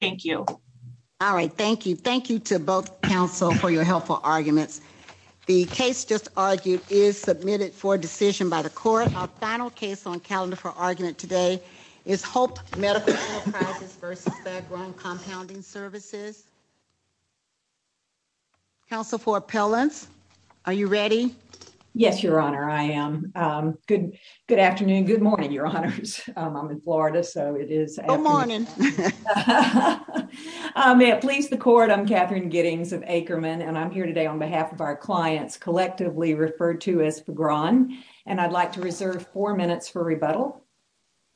Thank you. All right, thank you. Thank you to both council for your helpful arguments. The case just argued is submitted for decision by the court. Our final case on calendar for argument today is Hope Medical Enterprises v. Fagron Compounding Services. Council for appellants, are you ready? Yes, your honor, I am. Good afternoon, good morning, your honors. I'm may it please the court. I'm Catherine Giddings of Ackerman and I'm here today on behalf of our clients collectively referred to as Fagron and I'd like to reserve four minutes for rebuttal.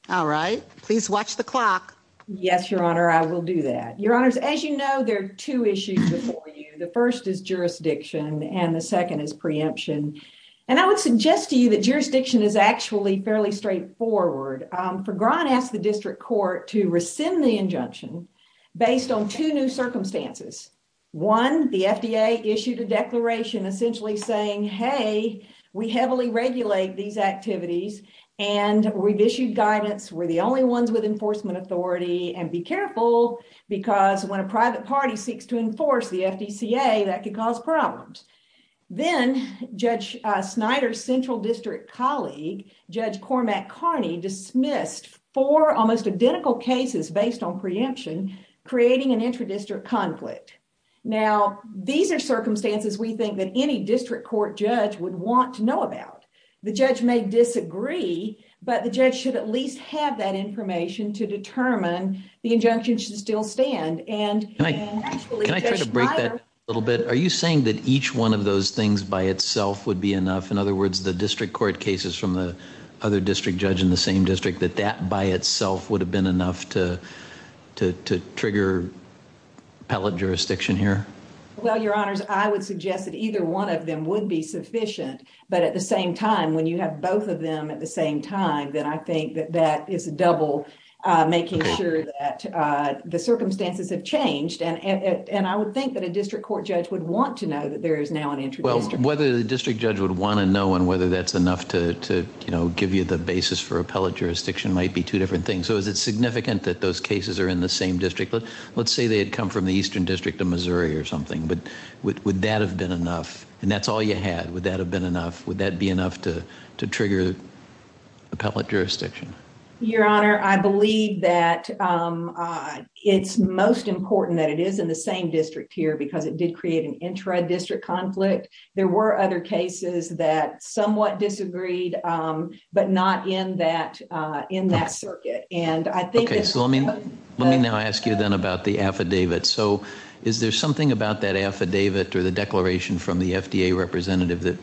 All right, please watch the clock. Yes, your honor, I will do that. Your honors, as you know, there are two issues before you. The first is jurisdiction and the second is preemption. And I would suggest to you that jurisdiction is actually fairly straightforward. Fagron asked the district court to rescind the injunction based on two new circumstances. One, the FDA issued a declaration essentially saying, hey, we heavily regulate these activities and we've issued guidance. We're the only ones with enforcement authority and be careful because when a private party seeks to enforce the FDCA, that could cause problems. Then Judge Snyder's almost identical cases based on preemption, creating an intradistrict conflict. Now, these are circumstances we think that any district court judge would want to know about. The judge may disagree, but the judge should at least have that information to determine the injunction should still stand. And can I try to break that a little bit? Are you saying that each one of those things by itself would be enough? In other words, the district court cases from the other district judge in the same district, that that by itself would have been enough to trigger appellate jurisdiction here? Well, your honors, I would suggest that either one of them would be sufficient. But at the same time, when you have both of them at the same time, then I think that that is a double making sure that the circumstances have changed. And I would think that a district court judge would want to know that there is now an intradistrict. Well, whether the district judge would want to know and whether that's enough to give you the basis for appellate jurisdiction might be two different things. So is it significant that those cases are in the same district? Let's say they had come from the eastern district of Missouri or something, but would that have been enough? And that's all you had. Would that have been enough? Would that be enough to trigger appellate jurisdiction? Your honor, I believe that it's most important that it is in the same district here because it did create an intradistrict conflict. There were other cases that somewhat disagreed, but not in that in that circuit. And I think so. I mean, let me now ask you then about the affidavit. So is there something about that affidavit or the declaration from the FDA representative that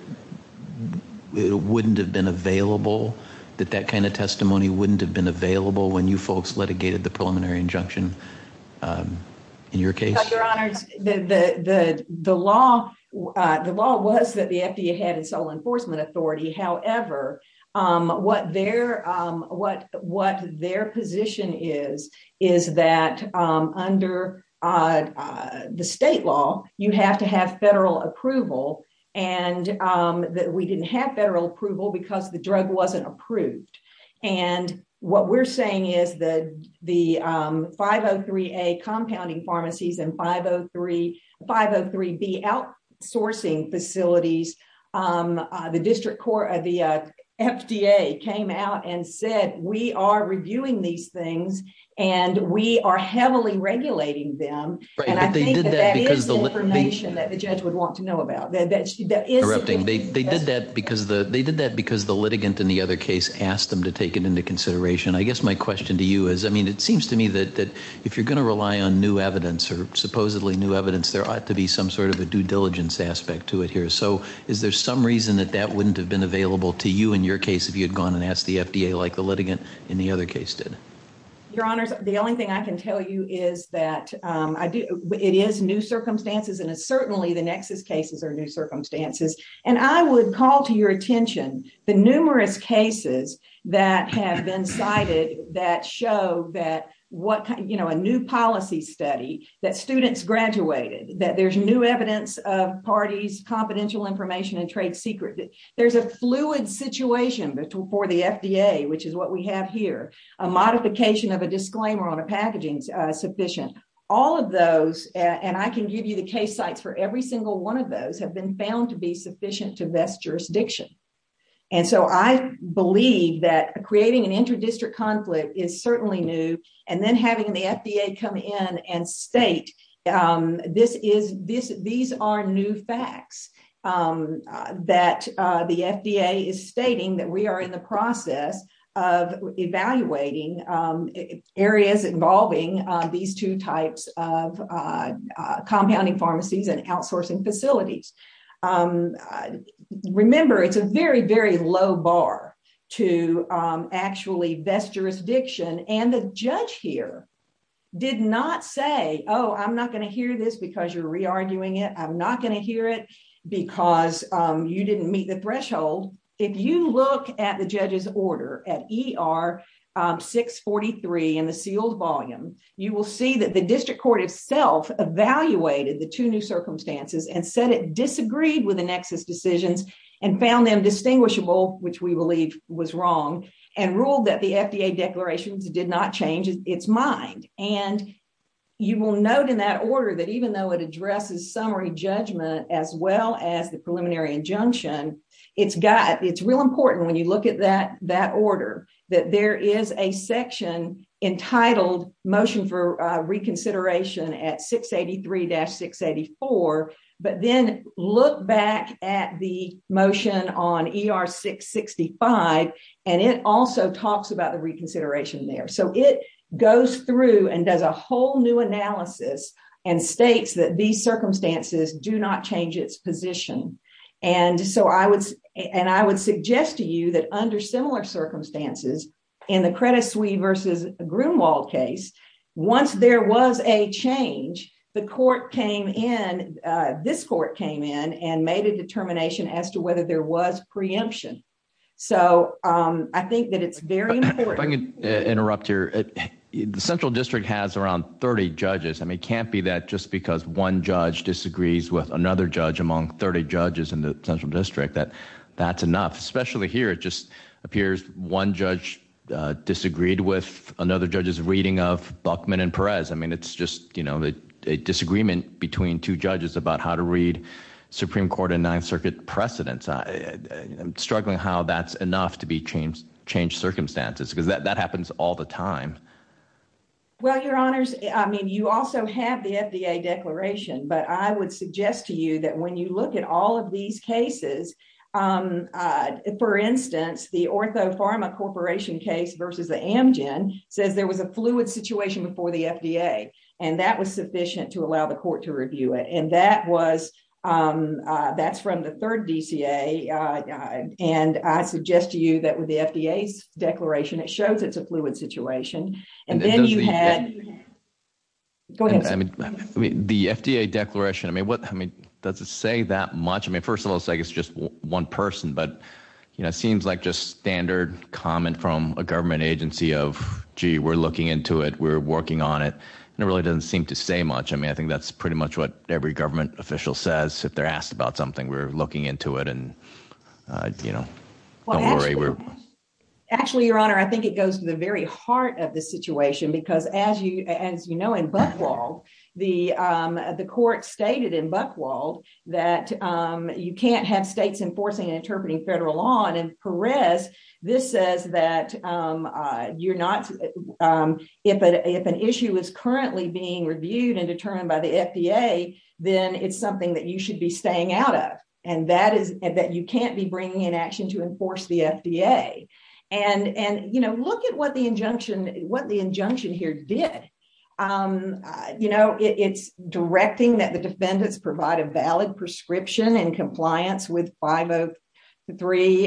it wouldn't have been available, that that kind of testimony wouldn't have been available when you folks litigated the preliminary injunction in your case? Your honor, the law, the law was that the FDA had its own enforcement authority. However, what their position is, is that under the state law, you have to have federal approval and that we didn't have federal approval because the drug wasn't approved. And what we're saying is that the 503A compounding pharmacies and 503B outsourcing facilities, the district court, the FDA came out and said, we are reviewing these things and we are heavily regulating them. And I think that that is information that the judge would want to know to take it into consideration. I guess my question to you is, I mean, it seems to me that if you're going to rely on new evidence or supposedly new evidence, there ought to be some sort of a due diligence aspect to it here. So is there some reason that that wouldn't have been available to you in your case, if you had gone and asked the FDA, like the litigant in the other case did? Your honors, the only thing I can tell you is that it is new circumstances. And it's certainly the nexus cases are new circumstances. And I would call to your that have been cited that show that a new policy study, that students graduated, that there's new evidence of parties, confidential information and trade secret. There's a fluid situation for the FDA, which is what we have here. A modification of a disclaimer on a packaging is sufficient. All of those, and I can give you the case sites for every single one of those, have been found to be sufficient to best jurisdiction. And so I believe that creating an inter-district conflict is certainly new. And then having the FDA come in and state, these are new facts that the FDA is stating that we are in the process of evaluating areas involving these two types of compounding pharmacies and outsourcing facilities. Remember, it's a very, very low bar to actually best jurisdiction. And the judge here did not say, oh, I'm not going to hear this because you're re-arguing it. I'm not going to hear it because you didn't meet the threshold. If you look at the judge's order at ER 643 in the sealed volume, you will see that the district court itself evaluated the two new circumstances and said it disagreed with the nexus decisions and found them distinguishable, which we believe was wrong, and ruled that the FDA declarations did not change its mind. And you will note in that order that even though it addresses summary judgment as well as the preliminary injunction, it's got, it's real important when you look at that order, that there is a section entitled motion for reconsideration at 683-684, but then look back at the motion on ER 665, and it also talks about the reconsideration there. So it goes through and does a whole new analysis and states that these circumstances do not change its position. And so I would, and I would suggest to you that under similar circumstances, in the Credit Sui versus Grunewald case, once there was a change, the court came in, this court came in and made a determination as to whether there was preemption. So I think that it's very important. If I can interrupt here. The Central District has around 30 judges. I mean, it can't be that just because one judge disagrees with another judge among 30 judges in the Central District that that's enough. Especially here, it just appears one judge disagreed with another judge's reading of Buchman and Perez. I mean, it's just, you know, a disagreement between two judges about how to read Supreme Court and Ninth Circuit precedents. I'm struggling how that's enough to be changed circumstances, because that happens all the time. Well, your honors, I mean, you also have the FDA declaration, but I would suggest to you that when you look at all of these cases, for instance, the Ortho Pharma Corporation case versus the Amgen says there was a fluid situation before the FDA, and that was sufficient to allow the court to declare. It shows it's a fluid situation. And then you had, go ahead. The FDA declaration, I mean, what, I mean, does it say that much? I mean, first of all, it's like it's just one person, but, you know, it seems like just standard comment from a government agency of, gee, we're looking into it. We're working on it. And it really doesn't seem to say much. I mean, I think that's pretty much what every government official says if they're into it. And, you know, don't worry. Actually, your honor, I think it goes to the very heart of the situation, because as you know, in Buchwald, the court stated in Buchwald that you can't have states enforcing and interpreting federal law. And Perez, this says that you're not, if an issue is currently being reviewed and determined by the FDA, then it's something that you can't be bringing in action to enforce the FDA. And, you know, look at what the injunction here did. You know, it's directing that the defendants provide a valid prescription in compliance with 503A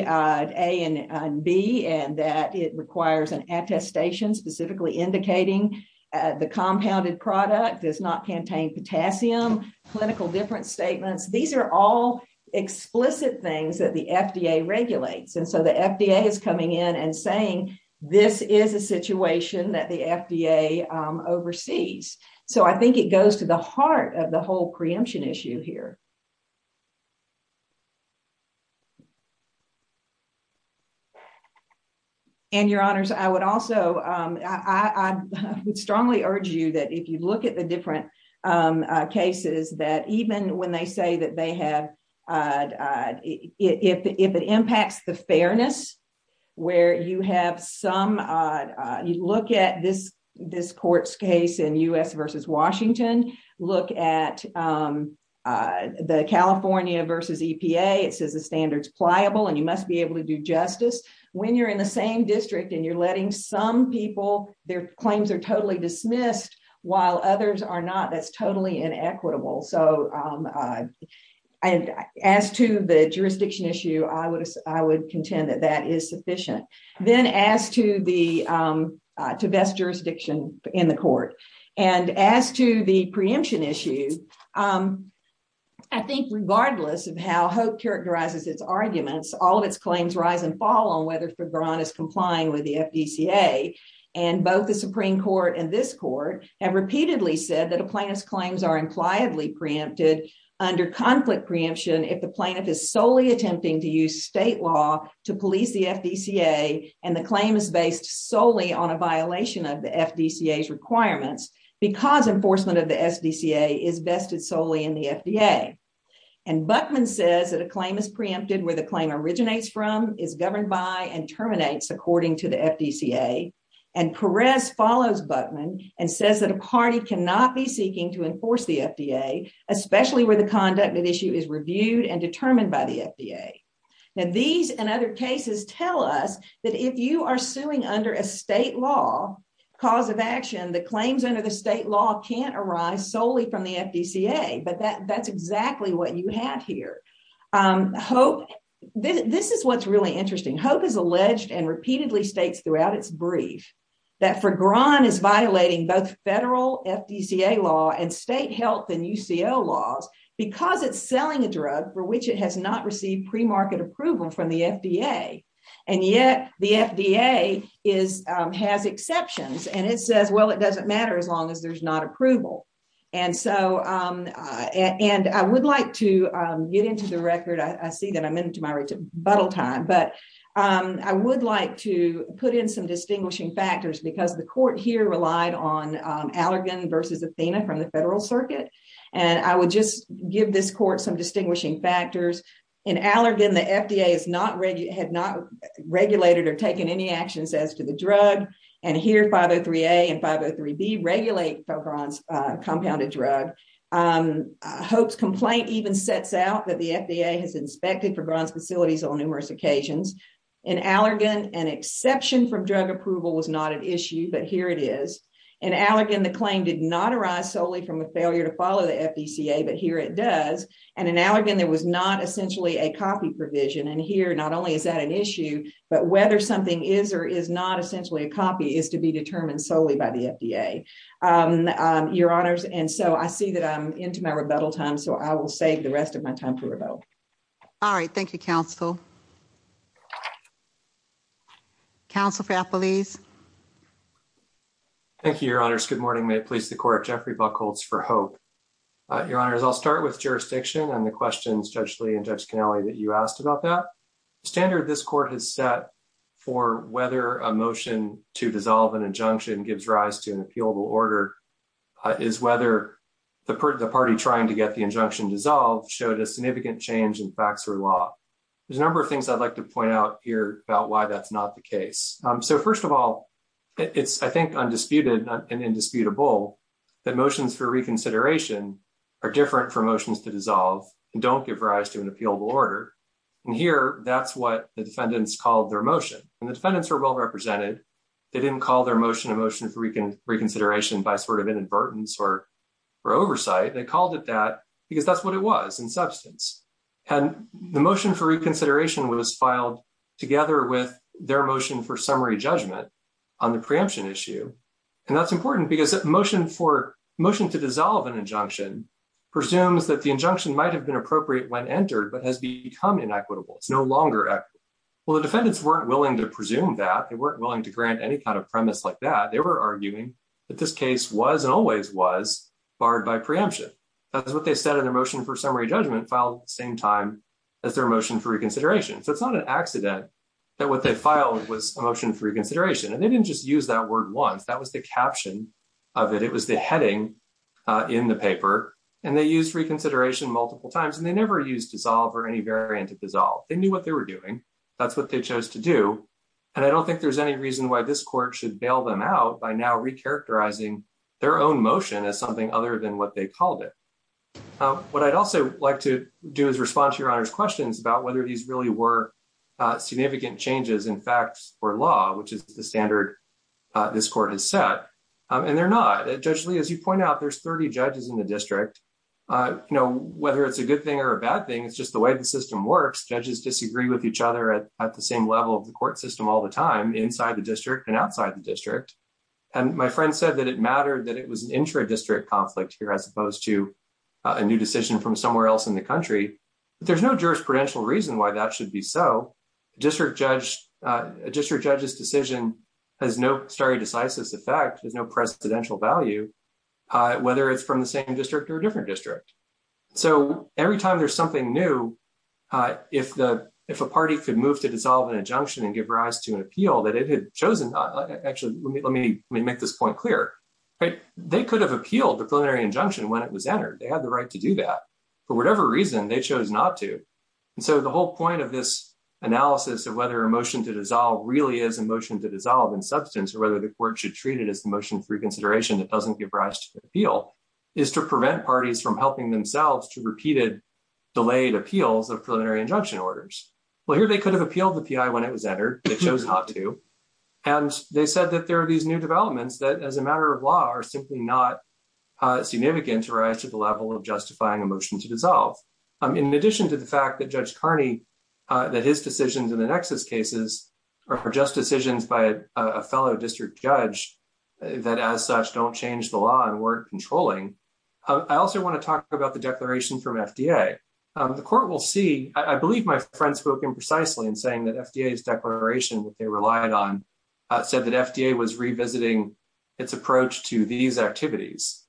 and B, and that it requires an attestation specifically indicating the compounded product does not contain potassium, clinical difference statements. These are all explicit things that the FDA regulates. And so the FDA is coming in and saying, this is a situation that the FDA oversees. So I think it goes to the heart of the whole preemption issue here. And your honors, I would also, I would strongly urge you that if you look at the different cases, that even when they say that they have, if it impacts the fairness, where you have some, you look at this, this court's case in US versus Washington, look at the California versus EPA, it says the standards pliable, and you must be able to do justice. When you're in the same district, and you're letting some people, their claims are totally dismissed, while others are not, that's totally inequitable. So as to the jurisdiction issue, I would, I would contend that that is sufficient. Then as to the, to best jurisdiction in the court, and as to the preemption issue, I think regardless of how Hope characterizes its arguments, all of its claims rise and fall on whether Febron is complying with the FDCA. And both the Supreme Court and this court have claimed that the plaintiff's claims are impliedly preempted under conflict preemption, if the plaintiff is solely attempting to use state law to police the FDCA, and the claim is based solely on a violation of the FDCA's requirements, because enforcement of the FDCA is vested solely in the FDA. And Buckman says that a claim is preempted where the claim originates from, is governed by, and terminates according to the FDCA. And Perez follows Buckman and says that a party cannot be seeking to enforce the FDA, especially where the conduct of issue is reviewed and determined by the FDA. Now these and other cases tell us that if you are suing under a state law, cause of action, the claims under the state law can't arise solely from the FDCA. But that, that's exactly what you have here. Hope, this is what's really interesting. Hope has alleged and repeatedly states throughout its brief, that Fergran is violating both federal FDCA law and state health and UCO laws, because it's selling a drug for which it has not received pre-market approval from the FDA. And yet the FDA is, has exceptions. And it says, well, it doesn't matter as long as there's not approval. And so, and I would like to get into the record. I see that I'm into my bottle time, but I would like to put in some distinguishing factors because the court here relied on Allergan versus Athena from the federal circuit. And I would just give this court some distinguishing factors. In Allergan, the FDA is not, had not regulated or taken any actions as to the drug. And here 503A and 503B regulate Fergran's compounded drug. Hope's complaint even sets out that the FDA has inspected Fergran's facilities on numerous occasions. In Allergan, an exception from drug approval was not an issue, but here it is. In Allergan, the claim did not arise solely from a failure to follow the FDCA, but here it does. And in Allergan, there was not essentially a copy provision. And here, not only is that an issue, but whether something is or is not essentially a copy is to be determined solely by the FDA. Your honors. And so I see that I'm into my rebuttal time, so I will save the rest of my time for rebuttal. All right. Thank you, counsel. Counsel for Apple, please. Thank you, your honors. Good morning. May it please the court. Jeffrey buck holds for hope. Your honors, I'll start with jurisdiction and the questions, Judge Lee and Judge Kennelly that you asked about that standard. This court has set for whether a motion to dissolve an injunction gives rise to an appealable order is whether the party trying to get the injunction dissolved showed a significant change in facts or law. There's a number of things I'd like to point out here about why that's not the case. So first of all, it's, I think, undisputed and indisputable that motions for reconsideration are different from motions to dissolve and don't give rise to an appealable order. And here, that's what the defendants called their motion. And the defendants were well represented. They didn't call their motion a motion for reconsideration by sort of inadvertence or oversight. They called it that because that's what it was in substance. And the motion for reconsideration was filed together with their motion for summary judgment on the preemption issue. And that's important because motion for motion to dissolve an injunction presumes that the injunction might have been appropriate when entered, but has become inequitable. It's no to grant any kind of premise like that. They were arguing that this case was and always was barred by preemption. That's what they said in their motion for summary judgment filed at the same time as their motion for reconsideration. So it's not an accident that what they filed was a motion for reconsideration. And they didn't just use that word once. That was the caption of it. It was the heading in the paper. And they used reconsideration multiple times, and they never used dissolve or any variant of dissolve. They knew what they were doing. That's what they chose to do. And I don't think there's any reason why this court should bail them out by now recharacterizing their own motion as something other than what they called it. What I'd also like to do is respond to Your Honor's questions about whether these really were significant changes in facts or law, which is the standard this court has set. And they're not. Judge Lee, as you point out, there's 30 judges in the district. You know, whether it's a good thing or a bad thing, it's just the way the system works. Judges disagree with each other at the same level of the court system all the time inside the district and outside the district. And my friend said that it mattered that it was an intra-district conflict here as opposed to a new decision from somewhere else in the country. But there's no jurisprudential reason why that should be so. A district judge's decision has no stare decisis effect, has no presidential value, whether it's from the same district or a different district. So every time there's something new, if a party could move to dissolve an injunction and give rise to an appeal that it had chosen, actually, let me make this point clear. They could have appealed the plenary injunction when it was entered. They had the right to do that. For whatever reason, they chose not to. And so the whole point of this analysis of whether a motion to dissolve really is a motion to dissolve in substance, or whether the court should treat it as the motion for reconsideration that doesn't give rise to an appeal, is to prevent parties from helping themselves to repeated, delayed appeals of preliminary injunction orders. Well, here they could have appealed the P.I. when it was entered. They chose not to. And they said that there are these new developments that, as a matter of law, are simply not significant to rise to the level of justifying a motion to dissolve. In addition to the fact that Judge Carney, that his decisions in the Nexus cases are just decisions by a fellow district judge that, as such, don't change the law and weren't controlling, I also want to talk about the declaration from FDA. The court will see, I believe my friend spoke imprecisely in saying that FDA's declaration that they relied on said that FDA was revisiting its approach to these activities.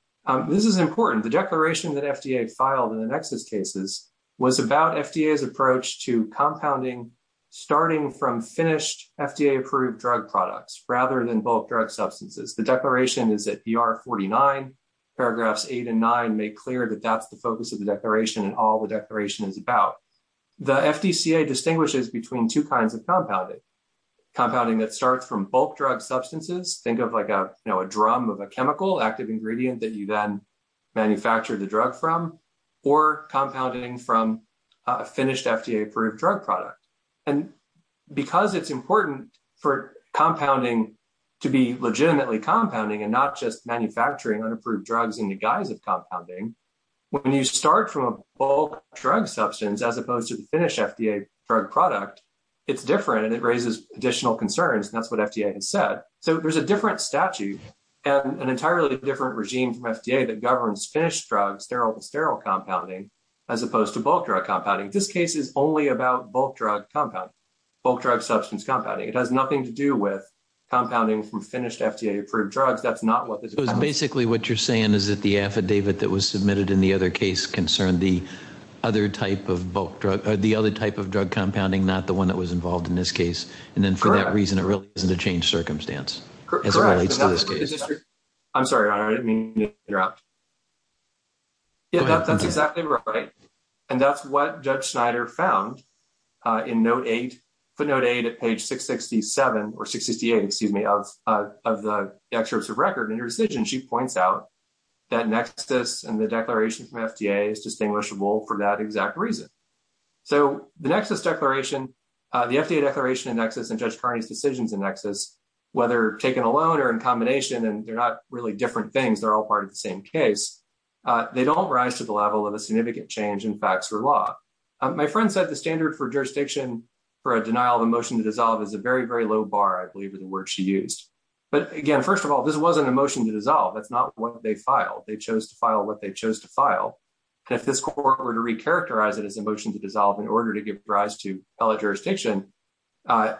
This is important. The declaration that FDA filed in the Nexus cases was about FDA's approach to compounding starting from finished FDA-approved products rather than bulk drug substances. The declaration is at BR 49. Paragraphs 8 and 9 make clear that that's the focus of the declaration and all the declaration is about. The FDCA distinguishes between two kinds of compounding. Compounding that starts from bulk drug substances, think of like a drum of a chemical, active ingredient that you then manufacture the drug from, or compounding from a finished FDA-approved drug product. Because it's important for compounding to be legitimately compounding and not just manufacturing unapproved drugs in the guise of compounding, when you start from a bulk drug substance as opposed to the finished FDA drug product, it's different and it raises additional concerns. That's what FDA has said. There's a different statute and an entirely different regime from FDA that governs finished sterile compounding as opposed to bulk drug compounding. This case is only about bulk drug compounding, bulk drug substance compounding. It has nothing to do with compounding from finished FDA-approved drugs. That's not what this is about. Basically, what you're saying is that the affidavit that was submitted in the other case concerned the other type of drug compounding, not the one that was involved in this case. Then for that reason, it really isn't a changed drug. That's exactly right. That's what Judge Snyder found in footnote 8 at page 668 of the excerpts of record. In her decision, she points out that NEXIS and the declaration from FDA is distinguishable for that exact reason. The FDA declaration in NEXIS and Judge Kearney's decisions in NEXIS, whether taken alone or in combination, and they're not really different things, they're all part of the same case, they don't rise to the level of a significant change in facts or law. My friend said the standard for jurisdiction for a denial of a motion to dissolve is a very, very low bar, I believe, is the word she used. Again, first of all, this wasn't a motion to dissolve. That's not what they filed. They chose to file what they chose to file. If this court were to recharacterize it as a motion to dissolve in order to give rise to fellow jurisdiction, I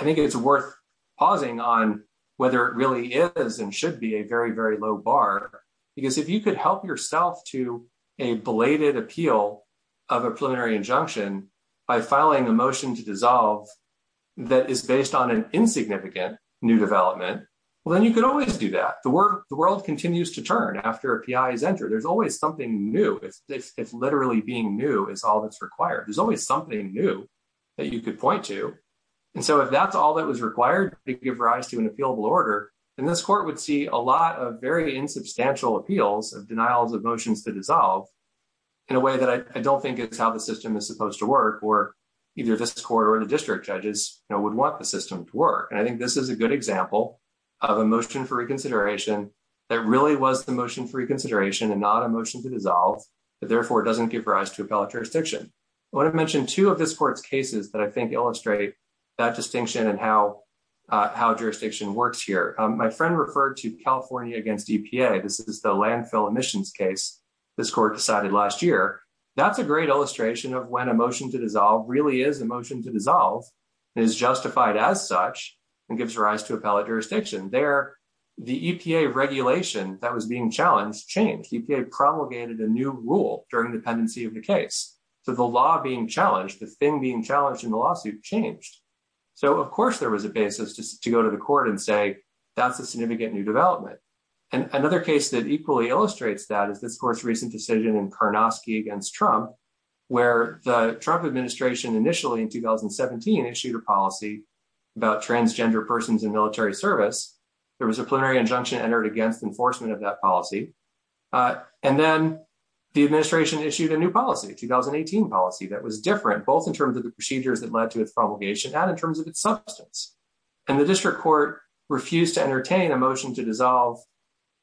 think it's worth pausing on whether it really is and should be a very, very low bar. Because if you could help yourself to a belated appeal of a preliminary injunction by filing a motion to dissolve that is based on an insignificant new development, well, then you could always do that. The world continues to turn after a PI is entered. There's always something new. It's literally being new is all that's required. There's always something new that you could point to. And so if that's all that was required to give rise to an appealable order, then this court would see a lot of very insubstantial appeals of denials of motions to dissolve in a way that I don't think is how the system is supposed to work, or either this court or the district judges would want the system to work. And I think this is a good example of a motion for reconsideration that really was the motion for reconsideration and not a motion to dissolve, but therefore doesn't give rise to appellate jurisdiction. I want to mention two of how jurisdiction works here. My friend referred to California against EPA. This is the landfill emissions case this court decided last year. That's a great illustration of when a motion to dissolve really is a motion to dissolve and is justified as such and gives rise to appellate jurisdiction. There, the EPA regulation that was being challenged changed. The EPA promulgated a new rule during the pendency of the case. So the law being challenged, the thing being challenged in the lawsuit changed. So of course there was a basis to go to the court and say that's a significant new development. And another case that equally illustrates that is this court's recent decision in Karnosky against Trump, where the Trump administration initially in 2017 issued a policy about transgender persons in military service. There was a preliminary injunction entered against enforcement of that policy. And then the administration issued a new policy, a 2018 policy, that was different both in terms of the procedures that led to its promulgation and in terms of its substance. And the district court refused to entertain a motion to dissolve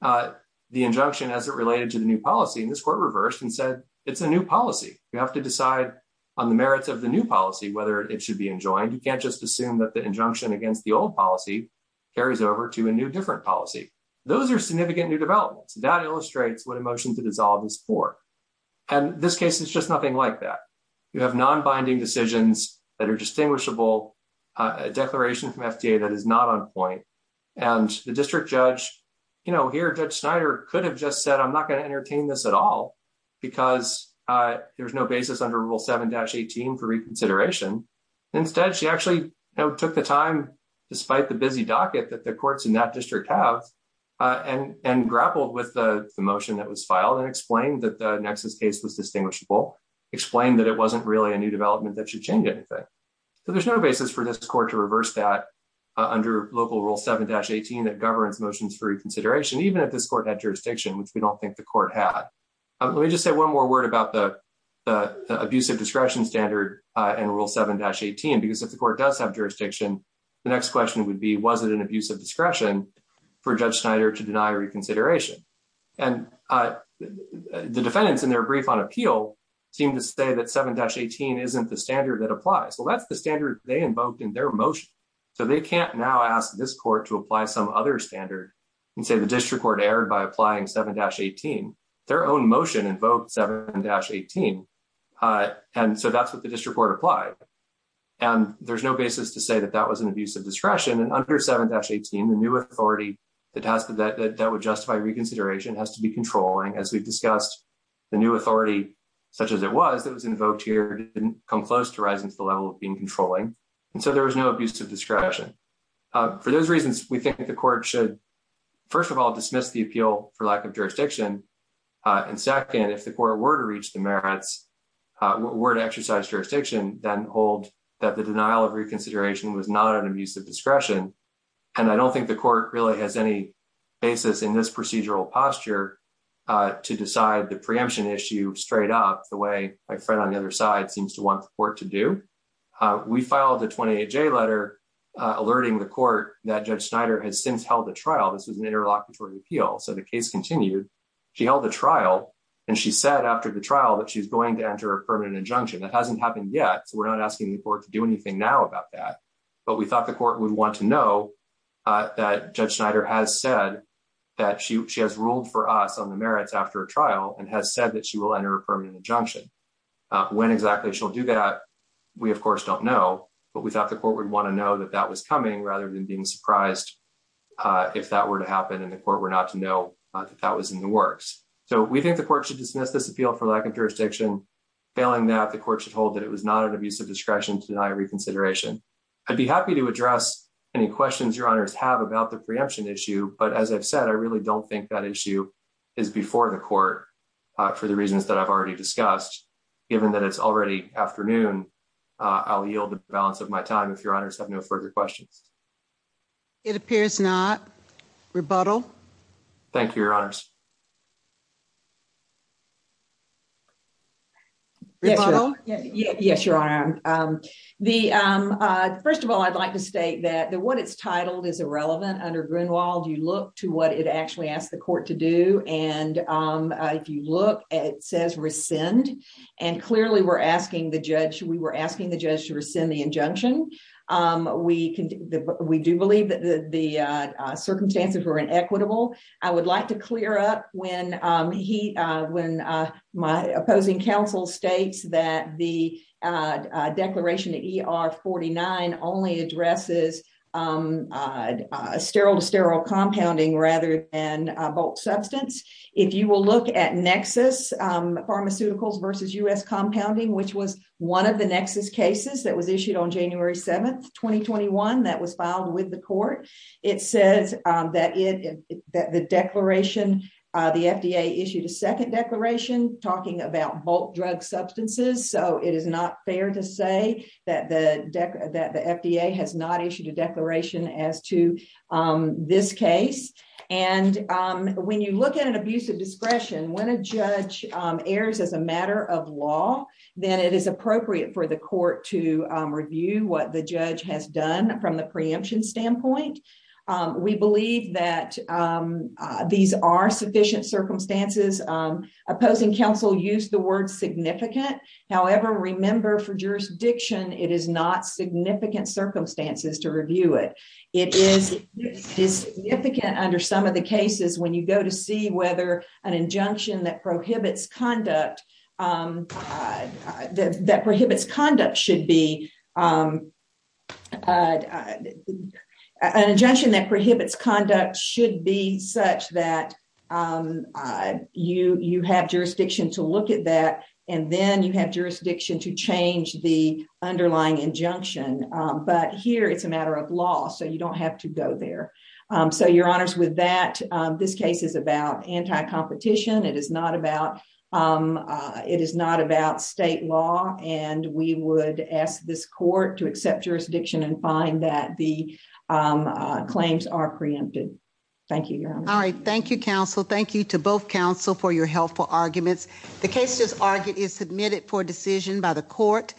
the injunction as it related to the new policy. This court reversed and said it's a new policy. We have to decide on the merits of the new policy whether it should be enjoined. You can't just assume that the injunction against the old policy carries over to a new different policy. Those are significant new developments. That illustrates what a motion to dissolve is for. And this case is just nothing like that. You have non-binding decisions that are distinguishable, a declaration from FDA that is not on point. And the district judge, you know, here Judge Snyder could have just said I'm not going to entertain this at all because there's no basis under Rule 7-18 for reconsideration. Instead she actually took the despite the busy docket that the courts in that district have and grappled with the motion that was filed and explained that the Nexus case was distinguishable, explained that it wasn't really a new development that should change anything. So there's no basis for this court to reverse that under local Rule 7-18 that governs motions for reconsideration, even if this court had jurisdiction, which we don't think the court had. Let me just say one more word about the abuse of discretion standard and Rule 7-18, because if the court does have jurisdiction, the next question would be was it an abuse of discretion for Judge Snyder to deny reconsideration? And the defendants in their brief on appeal seem to say that 7-18 isn't the standard that applies. Well, that's the standard they invoked in their motion. So they can't now ask this court to apply some other standard and say the district court erred by applying 7-18. Their own motion invoked 7-18. And so that's what the district court applied. And there's no basis to say that that was an abuse of discretion. And under 7-18, the new authority that would justify reconsideration has to be controlling, as we've discussed, the new authority such as it was that was invoked here didn't come close to rising to the level of being controlling. And so there was no abuse of discretion. For those reasons, we think the court should, first of all, dismiss the appeal for lack of jurisdiction. And second, if the court were to reach the merits, were to exercise jurisdiction, then hold that the denial of reconsideration was not an abuse of discretion. And I don't think the court really has any basis in this procedural posture to decide the preemption issue straight up the way my friend on the other side seems to want the court to do. We filed a 28-J letter alerting the court that Judge Snyder has since held a trial. This was an interlocutory appeal. So the case continued. She held a trial. And she said after the trial that she's going to enter a permanent injunction. That hasn't happened yet. So we're not asking the court to do anything now about that. But we thought the court would want to know that Judge Snyder has said that she has ruled for us on the merits after a trial and has said that she will enter a permanent injunction. When exactly she'll do that, we, of course, don't know. But we thought the court would want to know that that was coming rather than being surprised if that were to happen and the court were not to know that that was in the works. So we think the court should dismiss this appeal for lack of jurisdiction. Failing that, the court should hold that it was not an abuse of discretion to deny reconsideration. I'd be happy to address any questions your honors have about the preemption issue. But as I've said, I really don't think that issue is before the court for the reasons that I've already discussed. Given that it's already afternoon, I'll yield the balance of my time if honors have no further questions. It appears not. Rebuttal. Thank you, your honors. Yes, your honor. The first of all, I'd like to state that the what it's titled is irrelevant under Greenwald. You look to what it actually asked the court to do. And if you look at it says rescind and clearly we're asking the judge we were asking the judge to rescind the injunction. We can we do believe that the circumstances were inequitable. I would like to clear up when he when my opposing counsel states that the declaration to ER 49 only addresses sterile to sterile compounding rather than bulk substance. If you will look at Nexus Pharmaceuticals versus U.S. 2021 that was filed with the court. It says that it that the declaration, the FDA issued a second declaration talking about bulk drug substances. So it is not fair to say that the deck that the FDA has not issued a declaration as to this case. And when you look at an abuse of discretion, when a judge airs as a matter of law, then it is appropriate for the court to review what the judge has done from the preemption standpoint. We believe that these are sufficient circumstances. Opposing counsel used the word significant. However, remember for jurisdiction, it is not significant circumstances to review it. It is significant under some of the cases when you go to see whether an injunction that prohibits conduct that prohibits conduct should be an injunction that prohibits conduct should be such that you have jurisdiction to look at that and then you have jurisdiction to change the underlying injunction. But here it's a matter of law. So you don't have to go there. So your honors with that, this case is about anti-competition. It is not about it is not about state law. And we would ask this court to accept jurisdiction and find that the claims are preempted. Thank you. All right. Thank you, counsel. Thank you to both counsel for your helpful arguments. The case is argued is submitted for decision by the court.